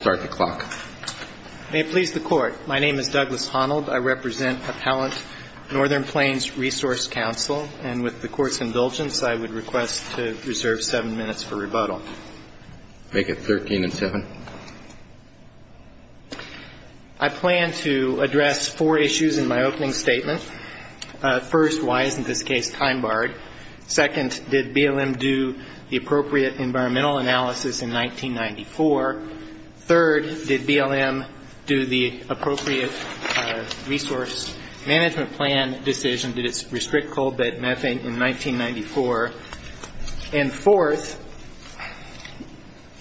Start the clock. May it please the court. My name is Douglas Honnold. I represent Appellant Northern Plains Resource Council, and with the court's indulgence, I would request to reserve seven minutes for rebuttal. Make it 13 and seven. I plan to address four issues in my opening statement. First, why isn't this case time barred? Second, did BLM do the appropriate environmental analysis in 1994? Third, did BLM do the appropriate resource management plan decision? Did it restrict coal bed methane in 1994? And fourth,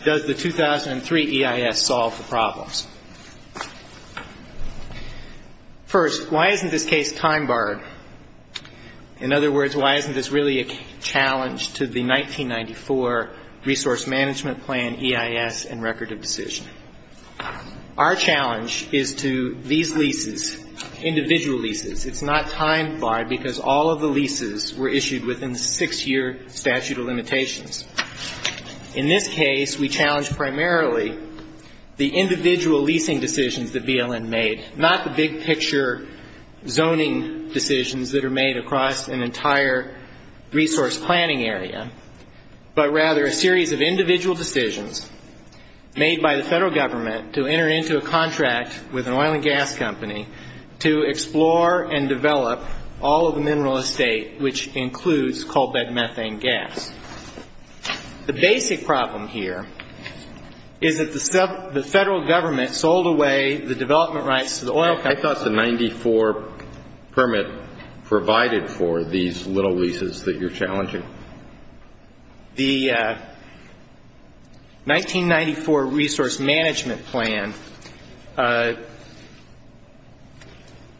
does the 2003 EIS solve the problems? First, why isn't this case time barred? In other words, why isn't this really a challenge to the 1994 resource management plan EIS and record of decision? Our challenge is to these leases, individual leases. It's not time barred, because all of the leases were issued within the six-year statute of limitations. In this case, we challenge primarily the individual leasing decisions that BLM made, not the big-picture zoning decisions that are made across an entire resource planning area, but rather a series of individual decisions made by the federal government and the federal government to enter into a contract with an oil and gas company to explore and develop all of the mineral estate, which includes coal bed methane gas. The basic problem here is that the federal government sold away the development rights to the oil company. I thought the 1994 permit provided for these little leases that you're challenging. The 1994 resource management plan,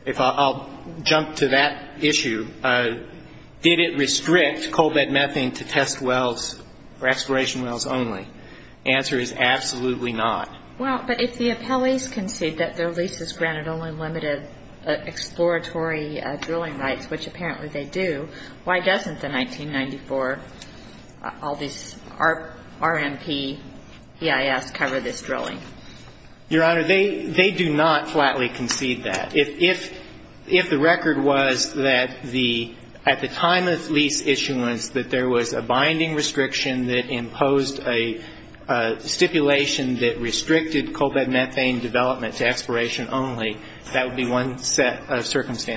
if I'll jump to that issue, did it restrict coal bed methane to test wells or exploration wells only? The answer is absolutely not. Well, but if the appellees concede that their leases granted only limited exploratory drilling rights, which apparently they do, why doesn't the 1994, all these RMP, EIS cover this drilling? Your Honor, they do not flatly concede that. If the record was that the, at the time of lease issuance, that there was a binding restriction that imposed a stipulation that restricted coal bed methane development to exploration only, that would be one set of facts.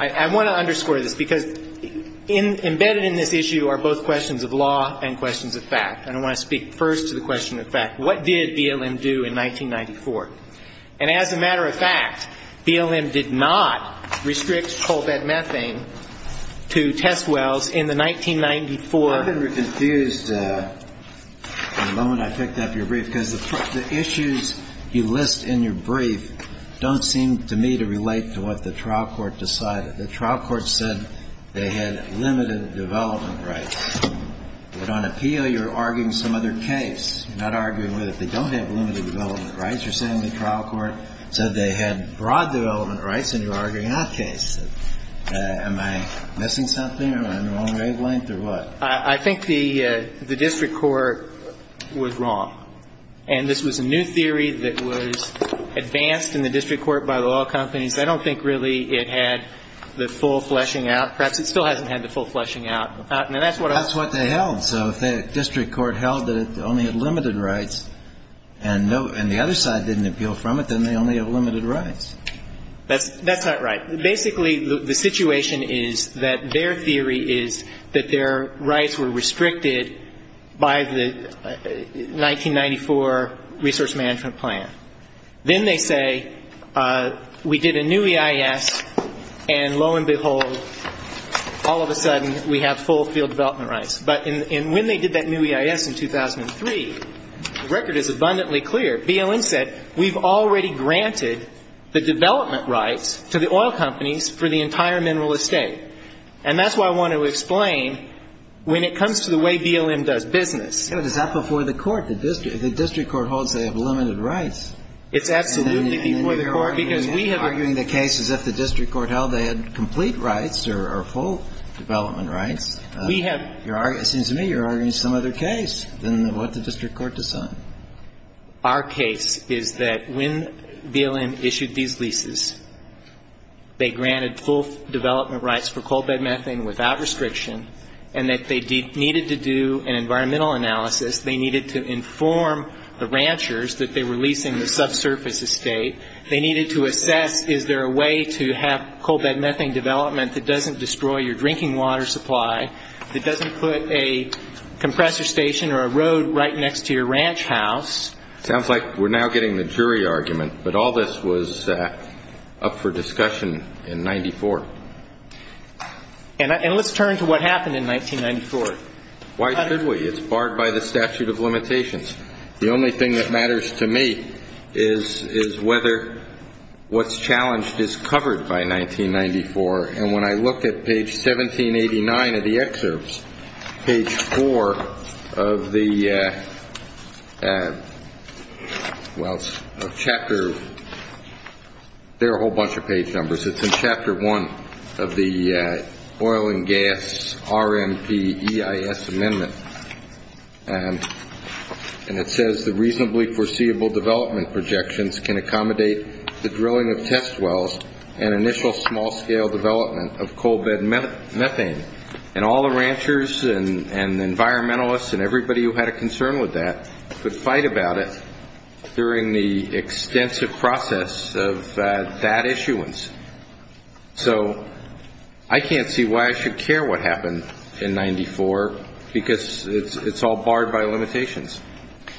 I want to underscore this, because embedded in this issue are both questions of law and questions of fact. And I want to speak first to the question of fact. What did BLM do in 1994? And as a matter of fact, BLM did not restrict coal bed methane to test wells in the 1994. I've been confused the moment I picked up your brief, because the issues you list in your brief don't seem to me to relate to what the trial court decided. The trial court said they had limited development rights. But on appeal, you're arguing some other case. You're not arguing that they don't have limited development rights. You're saying the trial court said they had broad development rights, and you're arguing that case. Am I missing something? Am I on the wrong wavelength or what? I think the district court was wrong. And this was a new theory that was advanced in the district court by the law companies. I don't think really it had the full fleshing out. Perhaps it still hasn't had the full fleshing out. That's what they held. So if the district court held that it only had limited rights and the other side didn't appeal from it, then they only have limited rights. That's not right. Basically, the situation is that their theory is that their rights were restricted by the 1994 resource management plan. Then they say we did a new EIS, and lo and behold, all of a sudden we have full field development rights. But when they did that new EIS in 2003, the record is abundantly clear. BLM said we've already granted the development rights to the oil companies for the entire mineral estate. And that's what I want to explain when it comes to the way BLM does business. But is that before the court? The district court holds they have limited rights. It's absolutely before the court, because we have argued the case as if the district court held they had complete rights or full development rights. It seems to me you're arguing some other case than what the district court decided. Our case is that when BLM issued these leases, they granted full development rights for coal bed methane without restriction and that they needed to do an environmental analysis, they needed to inform the ranchers that they were leasing the subsurface estate, they needed to assess is there a way to have coal bed methane development that doesn't destroy your drinking water supply, that doesn't put a compressor station or a road right next to your ranch house. Sounds like we're now getting the jury argument. But all this was up for discussion in 94. And let's turn to what happened in 1994. Why should we? It's barred by the statute of limitations. The only thing that matters to me is whether what's challenged is covered by 1994. And when I look at page 1789 of the excerpts, page 4 of the chapter, there are a whole bunch of page numbers. It's in chapter 1 of the oil and gas RMPEIS amendment. And it says the reasonably foreseeable development projections can accommodate the drilling of test wells and initial small-scale development of coal bed methane. And all the ranchers and environmentalists and everybody who had a concern with that could fight about it during the hearing. So I can't see why I should care what happened in 94, because it's all barred by limitations.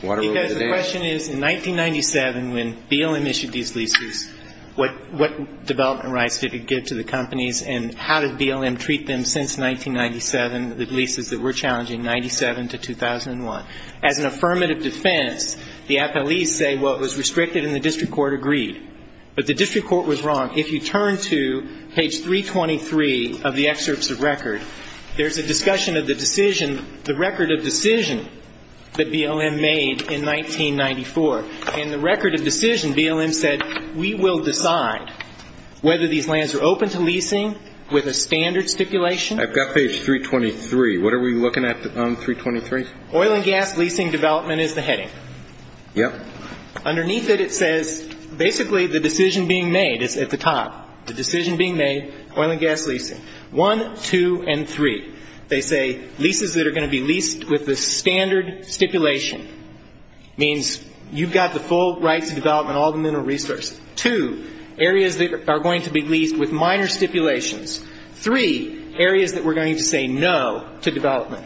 Water over the dam. Because the question is, in 1997, when BLM issued these leases, what development rights did it give to the companies and how did BLM treat them since 1997, the leases that were challenging, 97 to 2001? As an affirmative defense, the appellees say, well, it was restricted and the district court agreed. But the district court was wrong. If you turn to page 323 of the excerpts of record, there's a discussion of the decision, the record of decision that BLM made in 1994. And the record of decision, BLM said, we will decide whether these lands are open to leasing with a standard stipulation. I've got page 323. What are we looking at on 323? Oil and gas leasing development is the heading. Underneath it, it says basically the decision being made is at the top. The decision being made, oil and gas leasing. One, two, and three. They say leases that are going to be leased with the standard stipulation. Means you've got the full rights of development, all the mineral resources. Two, areas that are going to be leased with minor stipulations. Three, areas that we're going to say no to development.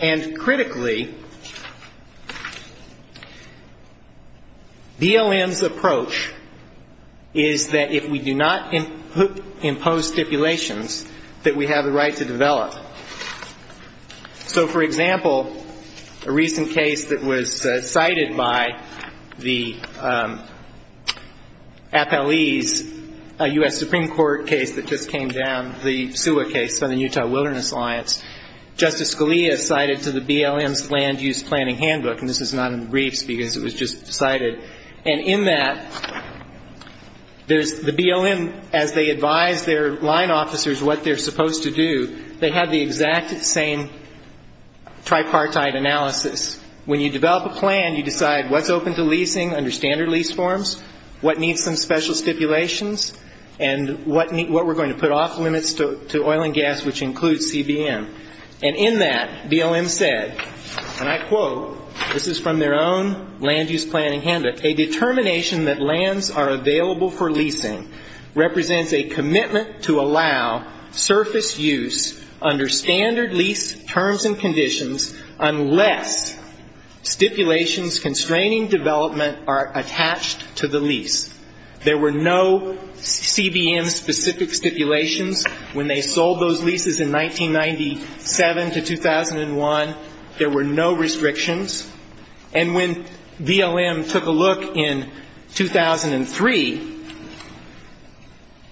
And critically, BLM's approach is that if we do not impose stipulations, that we have the right to develop. So, for example, a recent case that was cited by the appellees, a U.S. Supreme Court case that just happened to be cited by the Wilderness Alliance, Justice Scalia cited to the BLM's land use planning handbook. And this is not in the briefs, because it was just cited. And in that, there's the BLM, as they advise their line officers what they're supposed to do, they have the exact same tripartite analysis. When you develop a plan, you decide what's open to leasing under standard lease forms, what needs some special stipulations, and what we're going to put off limits to oil and gas, which includes the CBM. And in that, BLM said, and I quote, this is from their own land use planning handbook, a determination that lands are available for leasing represents a commitment to allow surface use under standard lease terms and conditions unless stipulations constraining development are attached to the lease. There were no CBM-specific stipulations when they sold those in 1997 to 2001. There were no restrictions. And when BLM took a look in 2003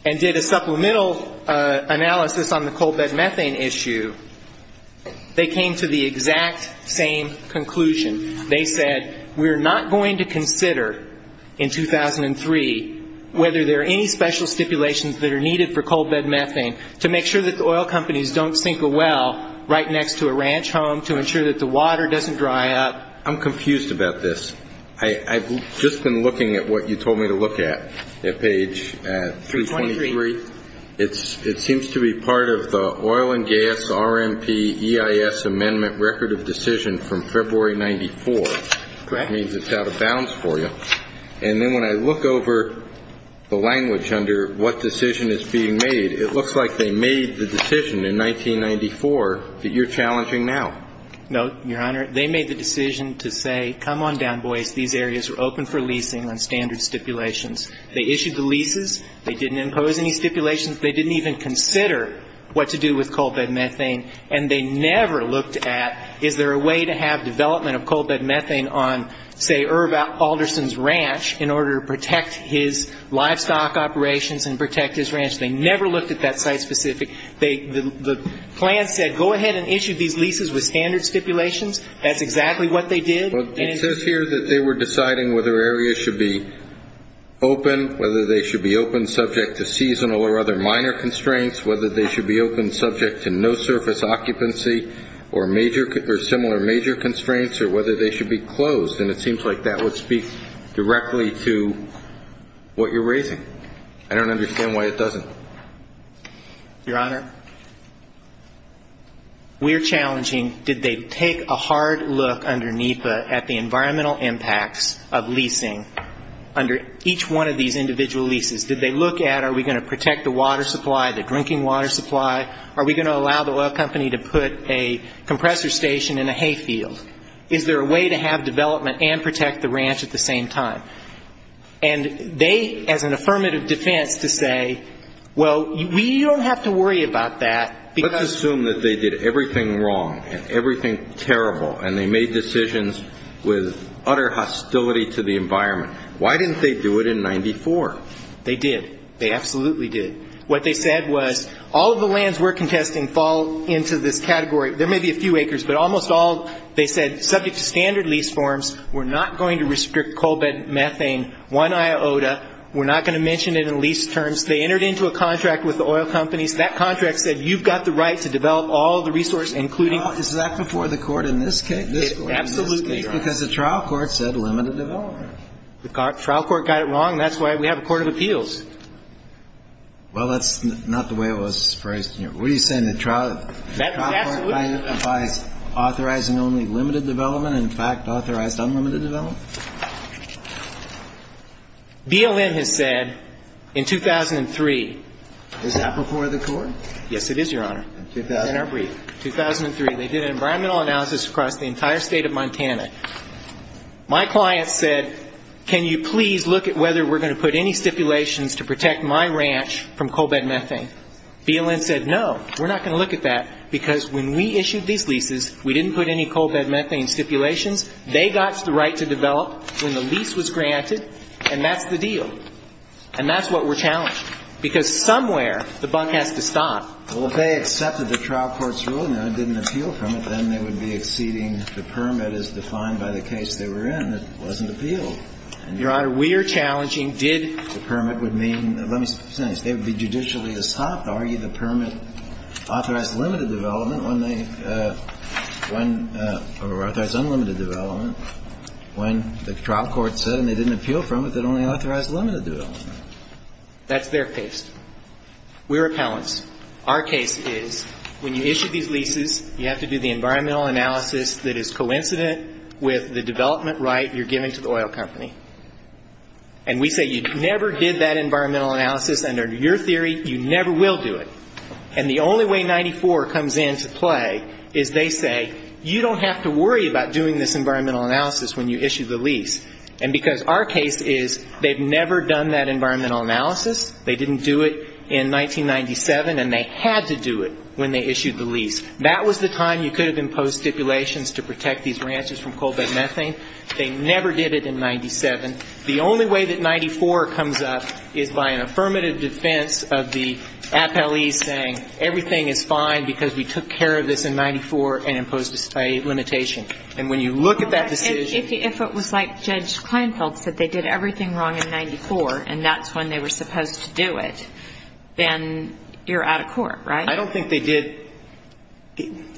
and did a supplemental analysis on the cold bed methane issue, they came to the exact same conclusion. They said, we're not going to consider in 2003 whether there are any special stipulations that are needed for cold bed methane to make sure that the oil companies don't sink a well right next to a ranch home, to ensure that the water doesn't dry up. I'm confused about this. I've just been looking at what you told me to look at, at page 323. It seems to be part of the oil and gas RMP EIS amendment record of decision from February 94. It means it's out of bounds for you. And then when I look over the language under what decision is being made, it looks like they made the decision in 1994 that you're challenging now. No, Your Honor. They made the decision to say, come on down, boys, these areas are open for leasing on standard stipulations. They issued the leases. They didn't impose any stipulations. They didn't even consider what to do with cold bed methane. And they never looked at, is there a way to have development of cold bed methane on, say, Herb Alderson's ranch in order to protect his livestock operations and protect his ranch. They never looked at that site specific. The plan said, go ahead and issue these leases with standard stipulations. That's exactly what they did. It says here that they were deciding whether areas should be open, whether they should be open subject to seasonal or other minor constraints, whether they should be open subject to no surface occupancy or similar major constraints, or whether they should be closed. And it seems like that would speak directly to what you're raising. I don't understand why it doesn't. Your Honor, we're challenging, did they take a hard look under NEPA at the environmental impacts of leasing under each one of these individual leases? Did they look at, are we going to protect the water supply, the drinking water supply? Are we going to allow a company to put a compressor station in a hay field? Is there a way to have development and protect the ranch at the same time? And they, as an affirmative defense, to say, well, we don't have to worry about that. Let's assume that they did everything wrong and everything terrible and they made decisions with utter hostility to the environment. Why didn't they do it in 94? They did. They absolutely did. What they said was, all of the lands we're contesting fall into this category. There may be a few acres, but almost all, they said, subject to standard lease forms, we're not going to restrict coal bed methane, one iota, we're not going to mention it in lease terms. They entered into a contract with the oil companies. That contract said you've got the right to develop all the resource, including... Well, that's not the way it was phrased. What are you saying, the trial, the trial clientifies authorizing only limited development, in fact, authorized unlimited development? BLM has said in 2003... Is that before the court? Yes, it is, Your Honor. In our brief. 2003, they did an environmental analysis across the entire state of Montana. My client said, can you please look at whether we're going to put any stipulations to protect my ranch from coal bed methane. BLM said, no, we're not going to look at that, because when we issued these leases, we didn't put any coal bed methane stipulations. They got the right to develop when the lease was granted, and that's the deal. And that's what we're challenged. Because somewhere the buck has to stop. Well, if they accepted the trial court's ruling and didn't appeal from it, then they would be exceeding the permit as defined by the statute of the appeal. Your Honor, we are challenging, did... The permit would mean, let me say this, they would be judicially stopped to argue the permit authorized limited development when they, when, or authorized unlimited development, when the trial court said, and they didn't appeal from it, that only authorized limited development. That's their case. We're appellants. Our case is, when you issue these leases, you have to do the environmental analysis that is coincident with the development right you're giving to the oil company. And we say, you never did that environmental analysis under your theory, you never will do it. And the only way 94 comes into play is they say, you don't have to worry about doing this environmental analysis when you issue the lease. And because our case is, they've never done that environmental analysis, they didn't do it in 1997, and they had to do it when they issued the lease. That was the time you could have imposed stipulations to protect these ranchers from coal bed methane. They never did it in 97. The only way that 94 comes up is by an affirmative defense of the appellees saying, everything is fine because we took care of this in 94 and imposed a limitation. And when you look at that decision... If it was like Judge Kleinfeld said, they did everything wrong in 94, and that's when they were supposed to do it, then you're out of court, right? I don't think they did...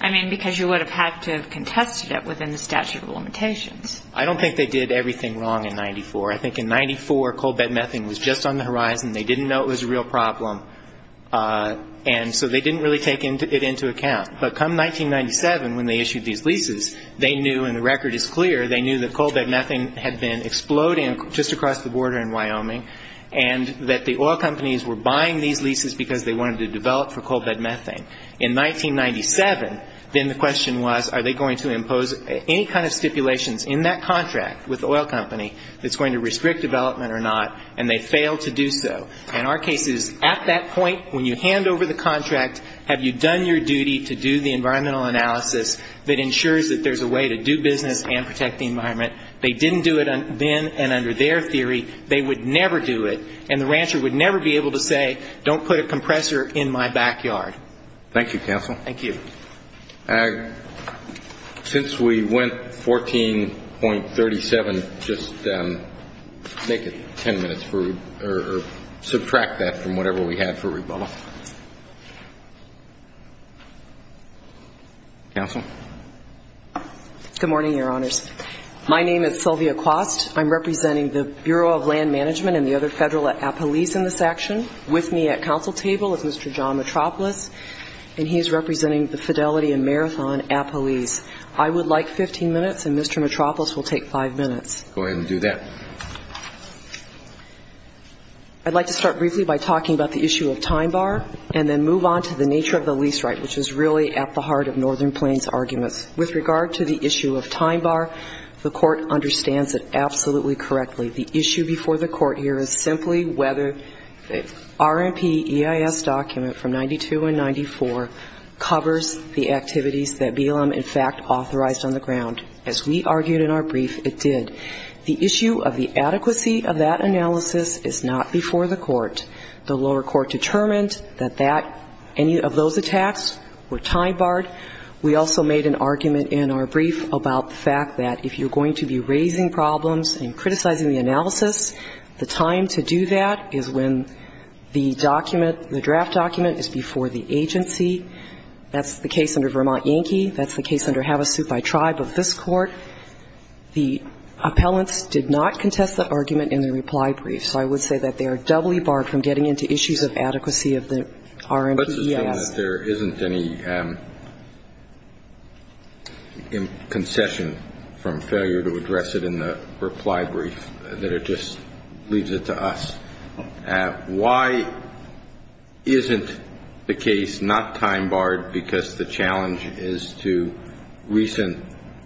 I mean, because you would have had to have contested it within the statute of limitations. I don't think they did everything wrong in 94. I think in 94, coal bed methane was just on the horizon. They didn't know it was a real problem. And so they didn't really take it into account. But come 1997, when they issued these leases, they knew, and the record is clear, they knew that coal bed methane had been exploding just across the border in Wyoming, and that the oil companies were going to use coal bed methane. In 1997, then the question was, are they going to impose any kind of stipulations in that contract with the oil company that's going to restrict development or not, and they failed to do so. And our case is, at that point, when you hand over the contract, have you done your duty to do the environmental analysis that ensures that there's a way to do business and protect the environment? They didn't do it then, and under their theory, they would never do it. And the rancher would never be able to say, don't put a compressor in my backyard. Thank you, counsel. Since we went 14.37, just make it ten minutes, or subtract that from whatever we had for rebuttal. Counsel? Good morning, Your Honors. My name is Sylvia Quast. I'm representing the Bureau of Land Management and the other federal appellees in this action. With me at counsel table is Mr. John Mitropoulos, and he's representing the Fidelity and Marathon appellees. I would like 15 minutes, and Mr. Mitropoulos will take five minutes. I'd like to start briefly by talking about the issue of time bar, and then move on to the nature of the lease right, which is really at the heart of Northern Plains arguments. With regard to the issue of time bar, the court understands it absolutely correctly. The issue before the court here is simply whether the RMP EIS document from 92 and 94 covers the activities that BLM in fact authorized on the ground. As we argued in our brief, it did. The issue of the adequacy of that analysis is not before the court. The lower court determined that that any of those attacks were time barred. We also made an argument in our brief about the fact that if you're going to be raising problems and criticizing the analysis, the time to do that is when the document, the draft document is before the agency. That's the case under Vermont Yankee. That's the case under Havasupai Tribe of this court. The appellants did not contest the argument in the reply brief, so I would say that they are double-dealing and fully barred from getting into issues of adequacy of the RMP EIS. Let's assume that there isn't any concession from failure to address it in the reply brief, that it just leaves it to us. Why isn't the case not time barred because the challenge is to recent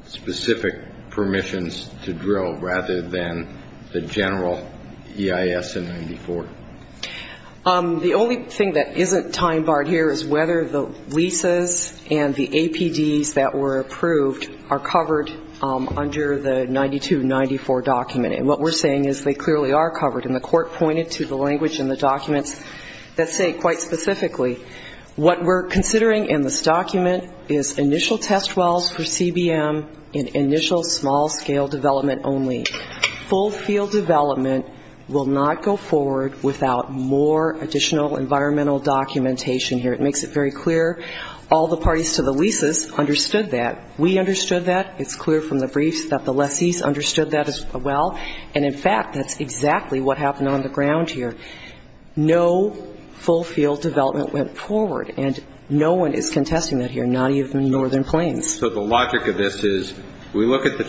specific permissions to drill rather than the general EIS in 94? The only thing that isn't time barred here is whether the leases and the APDs that were approved are covered under the 92-94 document. And what we're saying is they clearly are covered. And the court pointed to the language in the documents that say quite specifically, what we're considering in this document is initial test wells for CBM and initial small-scale development only. Full field development will not go forward without more additional environmental documentation here. It makes it very clear. All the parties to the leases understood that. We understood that. It's clear from the briefs that the lessees understood that as well. And in fact, that's exactly what happened on the ground here. No full field development went forward. And no one is contesting that here, not even Northern Plains. The only thing that's not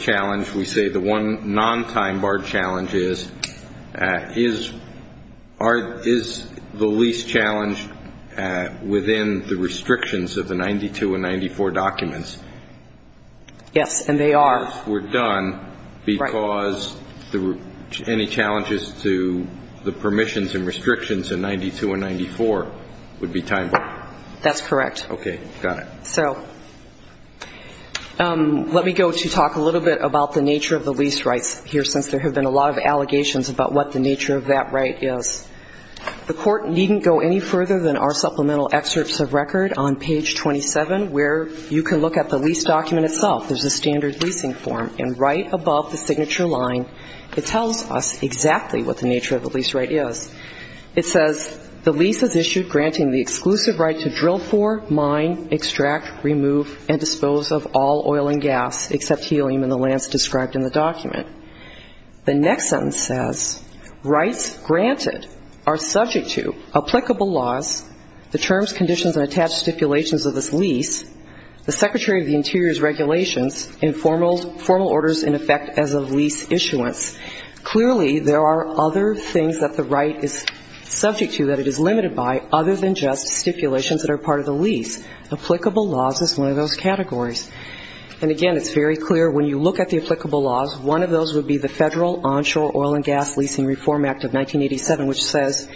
on time barred challenge is, is the lease challenge within the restrictions of the 92-94 documents? Yes, and they are. Because any challenges to the permissions and restrictions in 92-94 would be time barred? That's correct. Okay. Got it. So let me go to talk a little bit about the nature of the lease rights here, since there have been a lot of allegations about what the nature of that right is. The court needn't go any further than our supplemental excerpts of record on page 27, where you can look at the lease document itself. There's a standard leasing form. And right above the signature line, it tells us exactly what the nature of the lease right is. It says, the lease is issued granting the exclusive right to drill for, mine, and mine only. Mine, extract, remove, and dispose of all oil and gas except helium in the lands described in the document. The next sentence says, rights granted are subject to applicable laws, the terms, conditions, and attached stipulations of this lease, the Secretary of the Interior's regulations, and formal orders in effect as of lease issuance. Clearly, there are other things that the right is subject to that it is limited by, other than just stipulations that are part of the lease. Applicable laws is one of those categories. And again, it's very clear, when you look at the applicable laws, one of those would be the Federal Onshore Oil and Gas Leasing Reform Act of 1987, which says,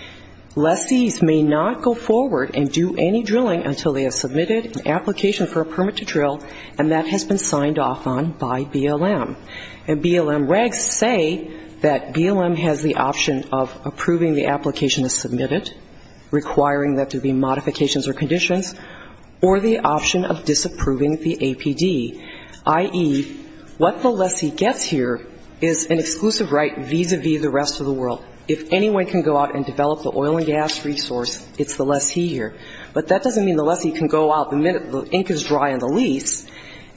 lessees may not go forward and do any drilling until they have submitted an application for a permit to drill, and that has been signed off on by BLM. And BLM regs say that BLM has the option of approving the application as submitted, and requiring that there be modifications or conditions, or the option of disapproving the APD, i.e., what the lessee gets here is an exclusive right vis-à-vis the rest of the world. If anyone can go out and develop the oil and gas resource, it's the lessee here. But that doesn't mean the lessee can go out the minute the ink is dry on the lease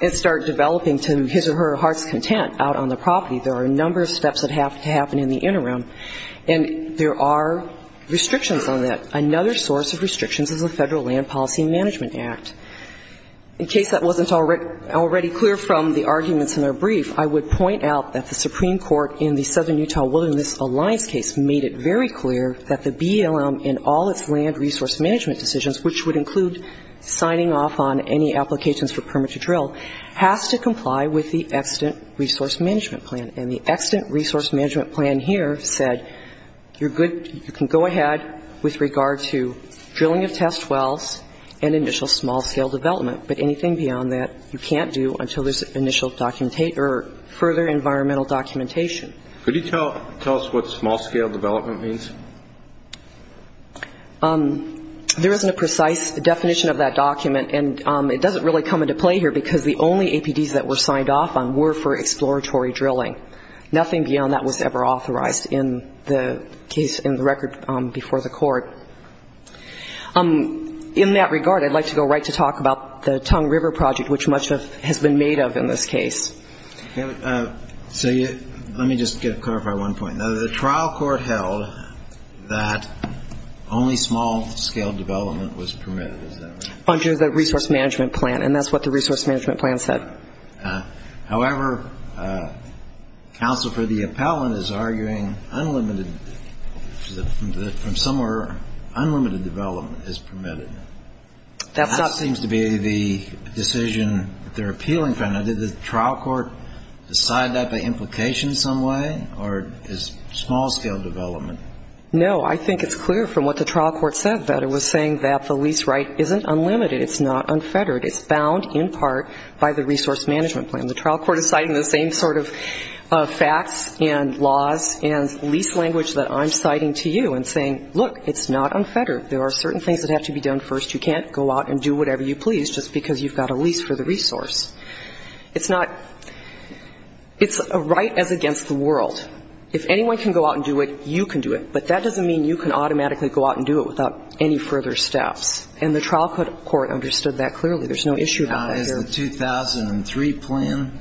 and start developing to his or her heart's content out on the property. There are a number of steps that have to happen in the interim, and there are restrictions on that. Another source of restrictions is the Federal Land Policy Management Act. In case that wasn't already clear from the arguments in our brief, I would point out that the Supreme Court in the Southern Utah Wilderness Alliance case made it very clear that the BLM in all its land resource management decisions, which would include signing off on any applications for permit to drill, has to comply with the Excedent Resource Management Plan. And the Excedent Resource Management Plan here said, you're good, you can go ahead with your application, but you can't do anything beyond that with regard to drilling of test wells and initial small-scale development. But anything beyond that, you can't do until there's initial documentation or further environmental documentation. Could you tell us what small-scale development means? There isn't a precise definition of that document, and it doesn't really come into play here, because the only APDs that were signed off on were for exploratory drilling. Nothing beyond that was ever authorized in the case, in the record before the Court. In that regard, I'd like to go right to talk about the Tongue River Project, which much has been made of in this case. So let me just clarify one point. Now, the trial court held that only small-scale development was permitted, is that right? Under the Resource Management Plan, and that's what the Resource Management Plan said. However, counsel for the appellant is arguing unlimited, from somewhere in the United States, that the APDs are not permitted. Unlimited development is permitted. That seems to be the decision that they're appealing from. Now, did the trial court decide that by implication in some way, or is small-scale development? No. I think it's clear from what the trial court said that it was saying that the lease right isn't unlimited. It's not unfettered. It's bound in part by the Resource Management Plan. The trial court is citing the same sort of facts and laws and lease language that I'm citing to you and saying, look, it's not unfettered. There are certain things that have to be done first. You can't go out and do whatever you please just because you've got a lease for the resource. It's not – it's a right as against the world. If anyone can go out and do it, you can do it. But that doesn't mean you can automatically go out and do it without any further steps. And the trial court understood that clearly. There's no issue about that here. Now, is the 2003 plan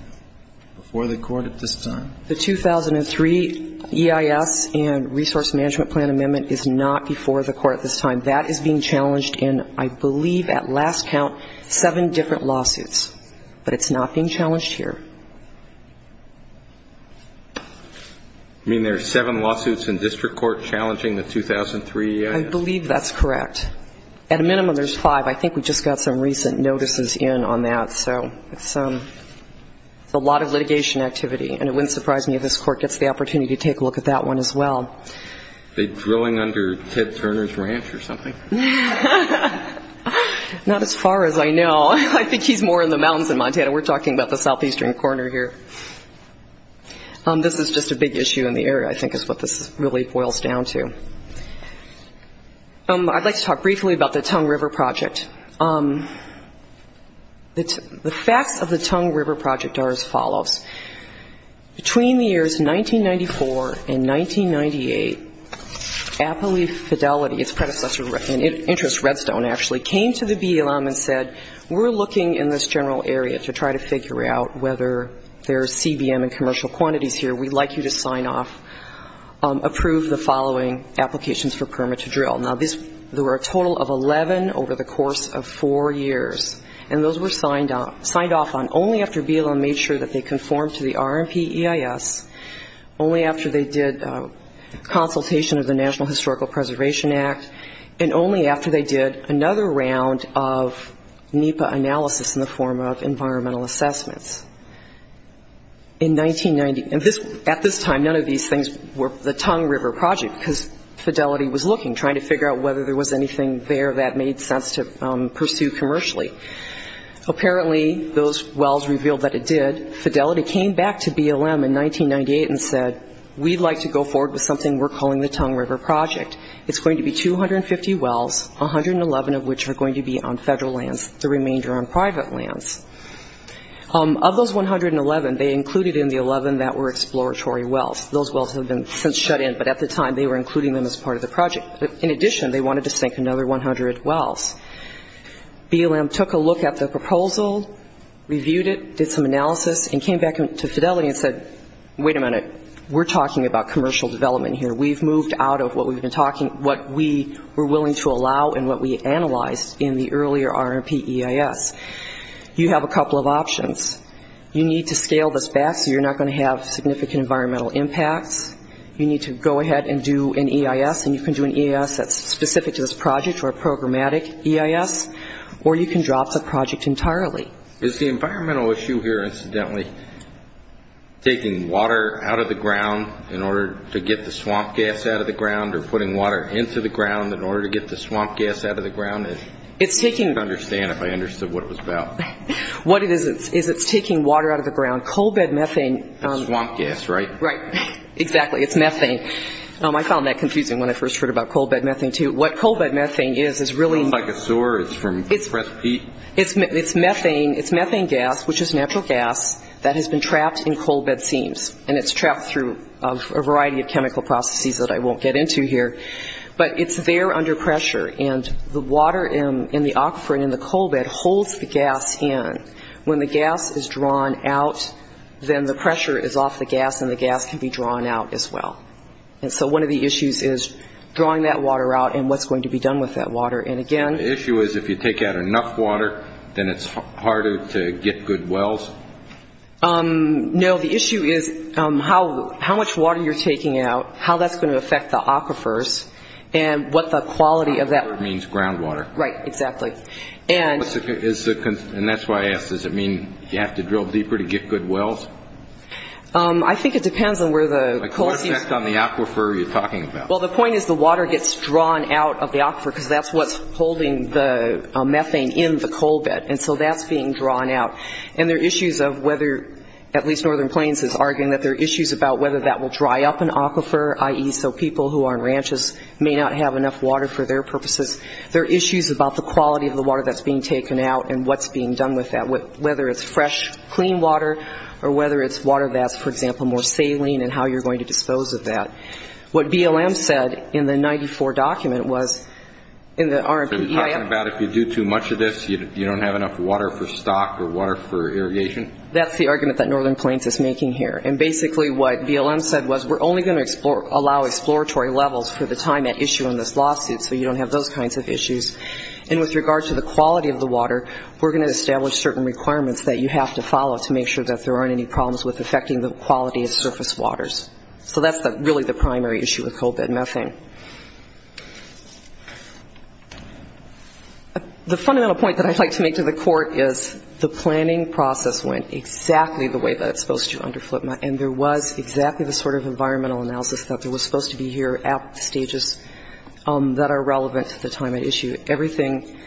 before the Court at this time? The 2003 EIS and Resource Management Plan amendment is not before the Court at this time. That is being challenged in, I believe, at last count, seven different lawsuits. But it's not being challenged here. I mean, there are seven lawsuits in district court challenging the 2003 EIS? I believe that's correct. At a minimum, there's five. I think we just got some recent notices in on that. So it's a lot of money. And it would surprise me if this Court gets the opportunity to take a look at that one as well. Are they drilling under Ted Turner's ranch or something? Not as far as I know. I think he's more in the mountains in Montana. We're talking about the southeastern corner here. This is just a big issue in the area, I think, is what this really boils down to. I'd like to talk briefly about the Tongue River Project. The facts of the Tongue River Project are as follows. Between the years 1994 and 1998, Appley Fidelity, its predecessor in interest, Redstone, actually, came to the BLM and said, we're looking in this general area to try to figure out whether there's CBM and commercial quantities here. We'd like you to sign off, approve the following applications for permit to drill. Now, there were a total of 11 over the course of four years. And those were signed off on only after BLM made sure that they conformed to the RMP EIS, only after they did consultation of the National Historical Preservation Act, and only after they did another round of NEPA analysis in the form of environmental assessments. In 1990, at this time, none of these things were the Tongue River Project, because Fidelity was looking, trying to figure out whether there was anything there that made sense to pursue commercially. Apparently, those wells revealed that it did. Fidelity came back to BLM in 1998 and said, we'd like to go forward with something we're calling the Tongue River Project. It's going to be 250 wells, 111 of which are going to be on federal lands, the remainder on private lands. Of those 111, they included in the 11 that were exploratory wells. Those wells have been since shut in, but at the time, they were including them as part of the project. In addition, they wanted to sink another 100 wells. BLM took a look at the proposal, reviewed it, did some analysis, and came back to Fidelity and said, wait a minute, we're talking about commercial development here. We've moved out of what we were willing to allow and what we analyzed in the earlier RMP EIS. You have a couple of options. You need to scale this back so you're not going to have significant environmental impacts. You need to go ahead and do an EIS, and you can do an EIS that's specific to this project or a programmatic, and you can do an EIS or you can drop the project entirely. Is the environmental issue here incidentally taking water out of the ground in order to get the swamp gas out of the ground or putting water into the ground in order to get the swamp gas out of the ground? I don't understand if I understood what it was about. What it is, is it's taking water out of the ground. Coal bed methane. Swamp gas, right? Right. Exactly. It's methane. I found that in the sewer. It's methane gas, which is natural gas that has been trapped in coal bed seams, and it's trapped through a variety of chemical processes that I won't get into here. But it's there under pressure, and the water in the aquifer and in the coal bed holds the gas in. When the gas is drawn out, then the pressure is off the gas and the gas can be drawn out as well. And so one of the issues is drawing that water out and what's going to be done with that water. And again... The issue is if you take out enough water, then it's harder to get good wells? No. The issue is how much water you're taking out, how that's going to affect the aquifers, and what the quality of that... Aquifer means groundwater. Right. Exactly. And that's why I asked. Does it mean you have to drill deeper to get good wells? I think it depends on where the coal seams... Like what effect on the aquifer are you talking about? Well, the point is the water gets drawn out of the aquifer, because that's what's holding the methane in the coal bed. And so that's being drawn out. And there are issues of whether, at least Northern Plains is arguing that there are issues about whether that will dry up an aquifer, i.e. so people who are on ranches may not have enough water for their purposes. There are issues about the quality of the water that's being taken out and what's being done with that, whether it's fresh, clean water or whether it's water that's, for example, more saline and how you're going to dispose of that. What BLM said in the 94 document was... Are you talking about if you do too much of this, you don't have enough water for stock or water for irrigation? That's the argument that Northern Plains is making here. And basically what BLM said was we're only going to allow exploratory levels for the time at issue in this lawsuit, so you don't have those kinds of issues. And with regard to the quality of the water, we're going to establish certain requirements that you have to follow to make sure that there aren't any problems with affecting the quality of surface waters. So that's really the primary issue with coal bed methane. The fundamental point that I'd like to make to the court is the planning process went exactly the way that it's supposed to under FLIPMA, and there was exactly the sort of environmental analysis that was supposed to be here at the stages that are relevant to the time at issue. Everything...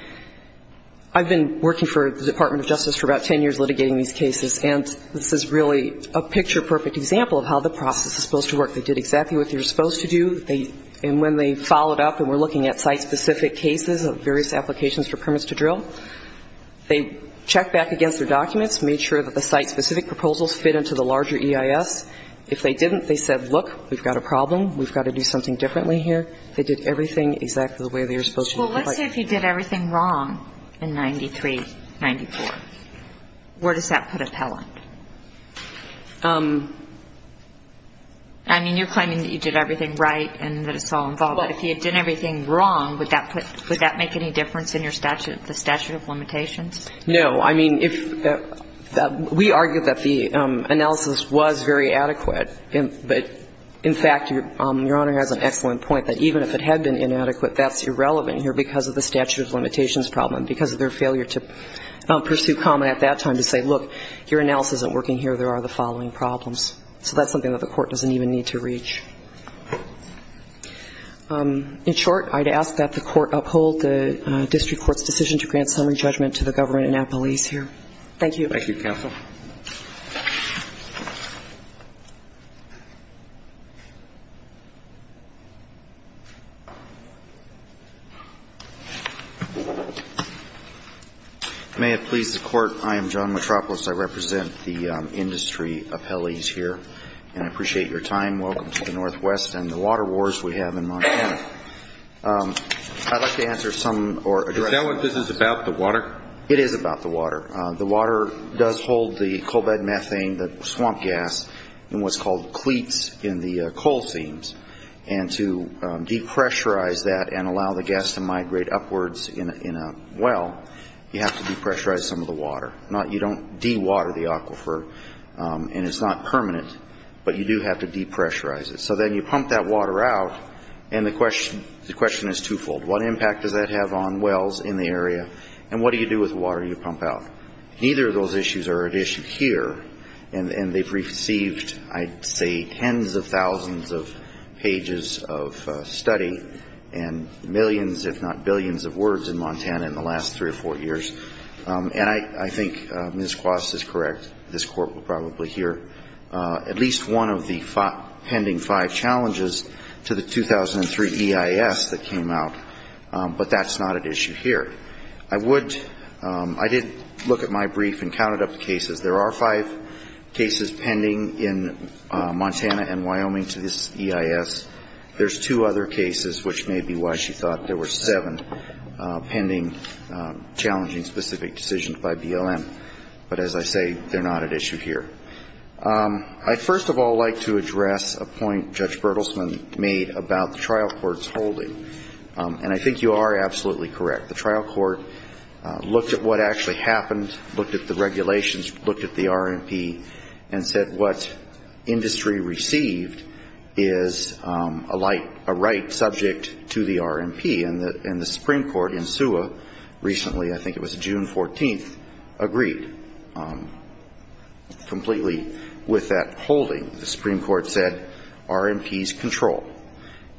I've been working for the Department of Justice for about 10 years litigating these cases, and this is really a picture-perfect example of how the process is supposed to work. They did exactly what they were supposed to do, and when they followed up and were looking at site-specific cases of various applications for permits to drill, they checked back against their documents, made sure that the site-specific proposals fit into the larger EIS. If they didn't, they said, look, we've got a problem, we've got to do something differently here. They did everything exactly the way they were supposed to do. Well, let's say if you did everything wrong in 93-94, where does that put Appellant? I mean, you're claiming that you did everything right and that it's all involved, but if you had done everything wrong, would that put – would that make any difference in your statute – the statute of limitations? No. I mean, if – we argued that the analysis was very adequate, but in fact, Your Honor has an excellent point that even if you did everything right, you still have a problem, and even if it had been inadequate, that's irrelevant here because of the statute of limitations problem, because of their failure to pursue comment at that time to say, look, your analysis isn't working here, there are the following problems. So that's something that the court doesn't even need to reach. In short, I'd ask that the court uphold the district court's decision to grant summary judgment to the government and appellees here. Thank you. May it please the Court, I am John Mitropoulos. I represent the industry appellees here, and I appreciate your time. Welcome to the Northwest and the water wars we have in Montana. I'd like to answer some – or address – Is that what this is about, the water? It is about the water. The water does hold the cobalt methane, the swamp gas, and what's called cleats in the coal seams, and to decrease the pressure, to depressurize that and allow the gas to migrate upwards in a well, you have to depressurize some of the water. You don't dewater the aquifer, and it's not permanent, but you do have to depressurize it. So then you pump that water out, and the question is two-fold. What impact does that have on wells in the area, and what do you do with the water you pump out? Neither of those issues are at issue here, and they've received, I'd say, tens of thousands of pages of studies, and they're not getting to everybody, and millions, if not billions of words in Montana in the last three or four years. And I think Ms. Kwas is correct. This Court will probably hear at least one of the pending five challenges to the 2003 EIS that came out, but that's not an issue here. I would – I did look at my brief and counted up the cases. There are five cases pending in Montana and Wyoming to this EIS. There's two other cases, which may be why she thought there were seven pending challenging specific decisions by BLM. But as I say, they're not at issue here. I'd first of all like to address a point Judge Bertelsman made about the trial court's holding, and I think you are absolutely correct. The trial court looked at what actually happened, looked at the regulations, looked at the RMP, and said what industry received is a right subject to the RMP. And the Supreme Court in SUA recently, I think it was June 14th, agreed completely with that holding. The Supreme Court said RMP's control.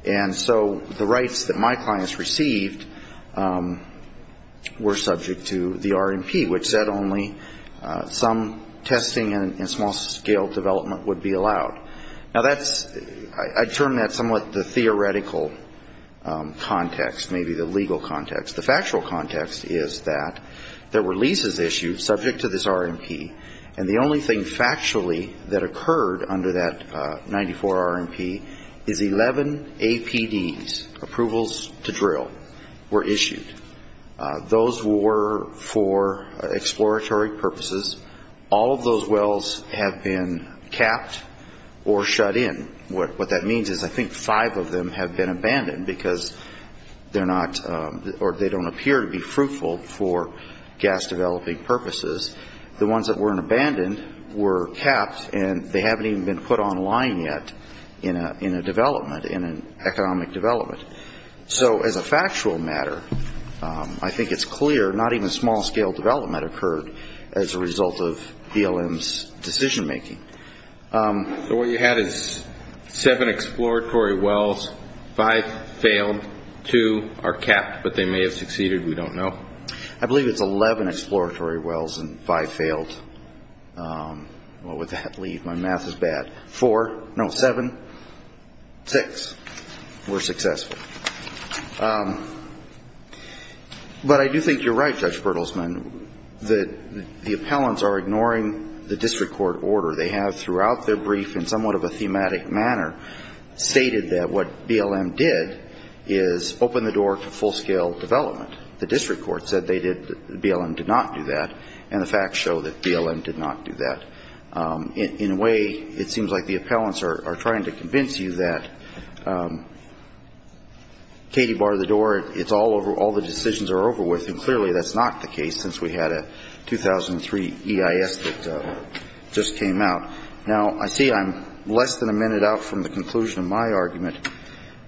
And so the rights that my clients received were subject to the RMP, which said only some testing and small-scale development would be allowed. Now that's – I'd term that somewhat the theoretical context, maybe the legal context. The factual context is that there were leases issued subject to this RMP, and the only thing factually that occurred under that 94 RMP is 11 APDs, approvals to drill, were issued. Those were for exploratory purposes. All of those wells have been capped or shut in. What that means is I think five of them have been abandoned because they're not – or they don't appear to be fruitful for gas-developing purposes. The ones that weren't abandoned were capped, and they haven't even been put online yet in a development, in an economic development. So as a factual matter, I think it's clear not even small-scale development occurred as a result of this RMP. It occurred as a result of BLM's decision-making. So what you had is seven exploratory wells, five failed, two are capped, but they may have succeeded. We don't know. I believe it's 11 exploratory wells and five failed. What would that leave? My math is bad. Four – no, seven, six were successful. But I do think you're right, Judge Bertelsman, that the appellants are ignoring the district court order. They have, throughout their brief, in somewhat of a thematic manner, stated that what BLM did is open the door to full-scale development. The district court said they did – BLM did not do that, and the facts show that BLM did not do that. In a way, it seems like the appellants are trying to convince you that, you know, they're not going to do that. Katie barred the door. It's all over. All the decisions are over with. And clearly that's not the case, since we had a 2003 EIS that just came out. Now, I see I'm less than a minute out from the conclusion of my argument.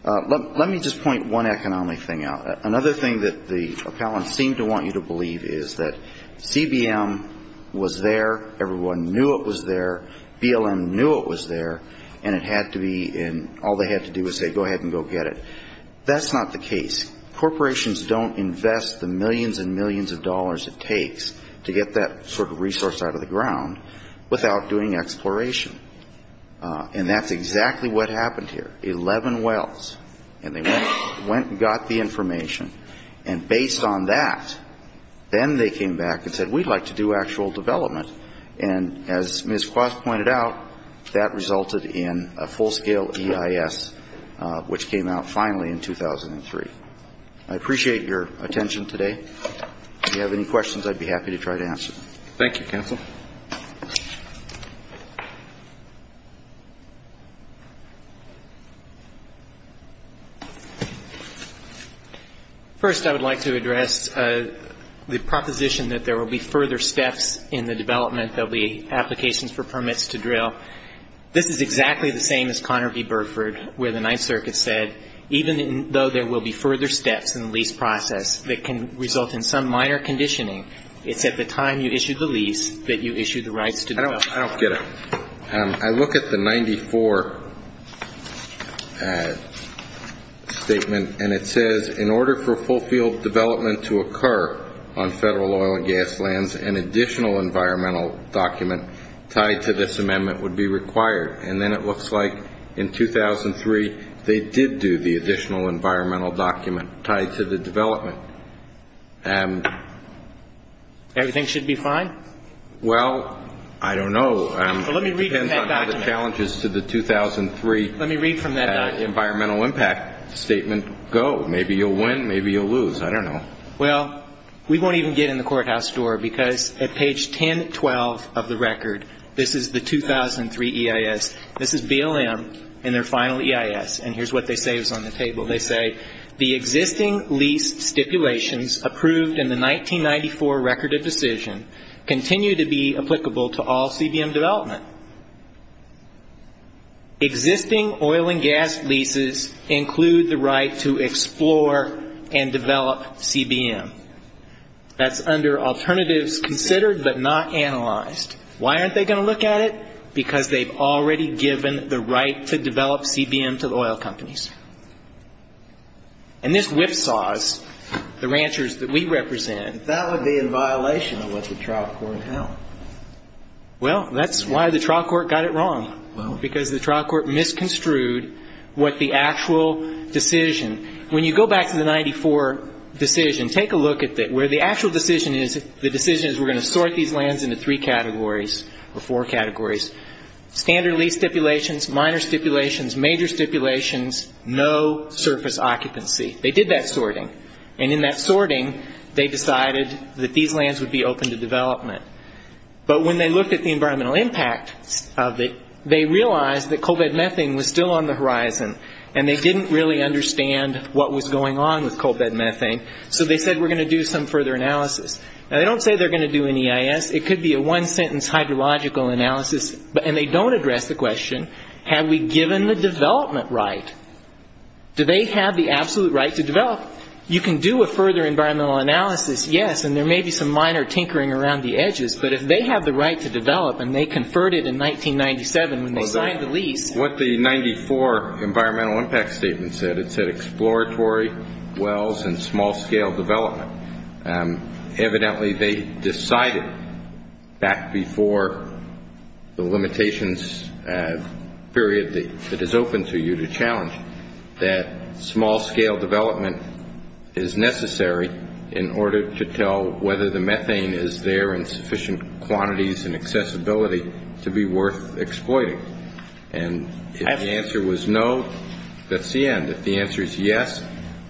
Let me just point one economic thing out. Another thing that the appellants seem to want you to believe is that CBM was there, everyone knew it was there, BLM knew it was there, and it had to be, and all they had to do was say, go ahead and go get it. That's not the case. Corporations don't invest the millions and millions of dollars it takes to get that sort of resource out of the ground without doing exploration. And that's exactly what happened here. Eleven wells, and they went and got the information. And based on that, then they came back and said, we'd like to do actual development. And as Ms. Kwas pointed out, that resulted in a full-scale EIS, which came out finally in 2003. I appreciate your attention today. If you have any questions, I'd be happy to try to answer them. Thank you, counsel. First, I would like to address the proposition that there will be further steps in the development. There will be applications for permits to drill. This is exactly the same as Conner v. Burford, where the Ninth Circuit said, even though there will be further steps in the lease process that can result in some minor conditioning, it's at the time you issue the lease that you issue the rights to drill. I don't get it. I look at the 94 statement, and it says, in order for full-field development to occur on federal oil and gas lands, an additional environmental document tied to this amendment would be required. And then it looks like in 2003 they did do the additional environmental document tied to the development. Everything should be fine? Well, I don't know. Let me read from that document. It depends on how the challenges to the 2003 environmental impact statement go. Maybe you'll win. Maybe you'll lose. I don't know. Well, we won't even get in the courthouse door, because at page 1012 of the record, this is the 2003 EIS. This is BLM in their final EIS, and here's what they say is on the table. They say, the existing lease stipulations approved in the 1994 record of decision continue to be applicable to all CBM development. Existing oil and gas leases include the right to explore and develop CBM. That's under alternatives considered but not analyzed. Why aren't they going to look at it? Because they've already given the right to develop CBM to the oil companies. And this whipsaws the ranchers that we represent. But that would be in violation of what the trial court held. Well, that's why the trial court got it wrong, because the trial court misconstrued what the actual decision. When you go back to the 94 decision, take a look at it. Where the actual decision is, the decision is we're going to sort these lands into three categories or four categories. Standard lease stipulations, minor stipulations, major stipulations, no surface occupancy. They did that sorting. And in that sorting, they decided that these lands would be open to development. But when they looked at the environmental impact of it, they realized that CBM was still on the horizon, and they didn't really understand what was going on with CBM. So they said we're going to do some further analysis. Now, they don't say they're going to do an EIS. It could be a one-sentence hydrological analysis, and they don't address the question, have we given the development right? Do they have the absolute right to develop? You can do a further environmental analysis, yes, and there may be some minor tinkering around the edges. But if they have the right to develop, and they conferred it in 1997 when they signed the lease. What the 94 environmental impact statement said, it said exploratory, wells, and small-scale development. Evidently, they decided back before the limitations period that is open to you to challenge that small-scale development is necessary in order to tell whether the methane is there in sufficient quantities and accessibility to be worth exploiting. And if the answer was no, that's the end. If the answer is yes,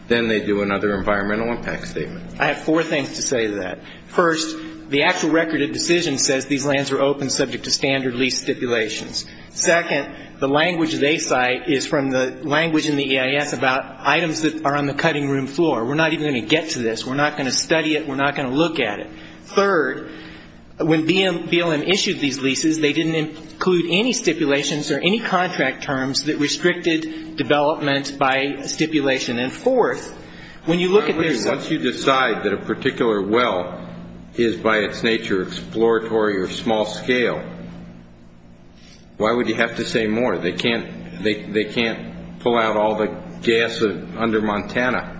then they do another environmental impact statement. I have four things to say to that. First, the actual record of decision says these lands are open subject to standard lease stipulations. Second, the language they cite is from the language in the EIS about items that are on the cutting room floor. We're not even going to get to this. We're not going to study it. We're not going to look at it. Third, when BLM issued these leases, they didn't include any stipulations or any contract terms that restricted development by stipulation. And fourth, when you look at these ones you decide that a particular well is by its nature exploratory or small-scale, why would you have to say more? They can't pull out all the gas under Montana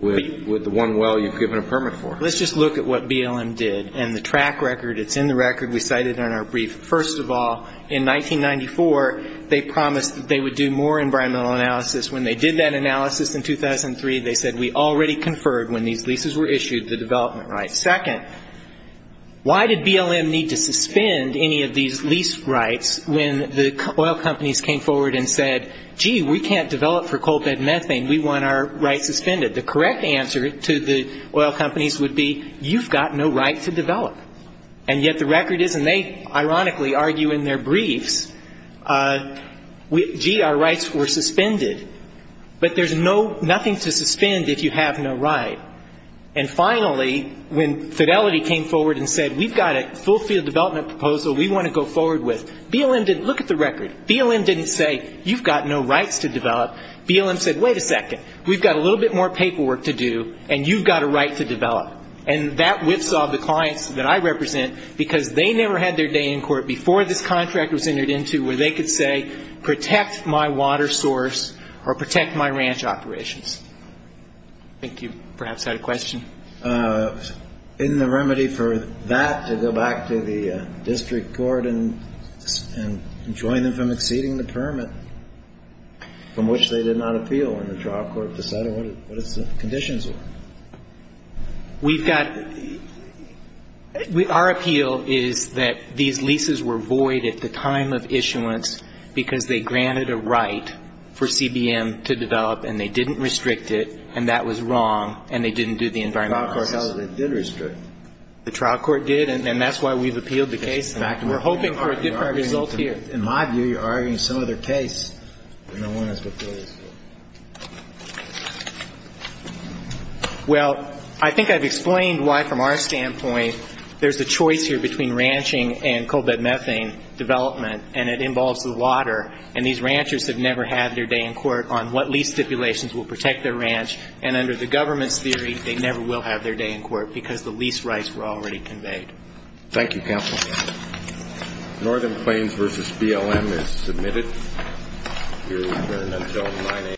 with the one well you've given a permit for. Let's just look at what BLM did and the track record. It's in the record. We cite it in our brief. First of all, in 1994, they promised that they would do more environmental analysis. When they did that analysis in 2003, they said we already conferred when these leases were issued the development rights. Second, why did BLM need to suspend any of these lease rights when the oil companies came forward and said, gee, we can't develop for coal bed methane. We want our rights suspended. The correct answer to the oil companies would be you've got no right to develop. And yet the record is, and they ironically argue in their briefs, gee, our rights were suspended. But there's nothing to suspend if you have no right. And finally, when Fidelity came forward and said we've got a full field development proposal we want to go forward with, BLM didn't look at the record. BLM didn't say you've got no rights to develop. BLM said, wait a second, we've got a little bit more paperwork to do, and you've got a right to develop. And that whipsawed the clients that I represent because they never had their day in court before this contract was entered into where they could say protect my water source or protect my ranch operations. I think you perhaps had a question. Isn't there a remedy for that to go back to the district court and join them from exceeding the permit, from which they did not appeal when the trial court decided what its conditions were? We've got ‑‑ our appeal is that these leases were void at the time of issuance because they granted a right for CBM to develop and they didn't restrict it, and that was wrong, and they didn't do the environmental analysis. The trial court says they did restrict it. The trial court did, and that's why we've appealed the case. And we're hoping for a different result here. In my view, you're arguing some other case than the one that's before this Court. Well, I think I've explained why, from our standpoint, there's a choice here between ranching and co‑bed methane development, and it involves the water. And these ranchers have never had their day in court on what lease stipulations will protect their ranch, and under the government's theory, they never will have their day in court because the lease rights were already conveyed. Thank you, counsel. Northern Plains v. BLM is submitted.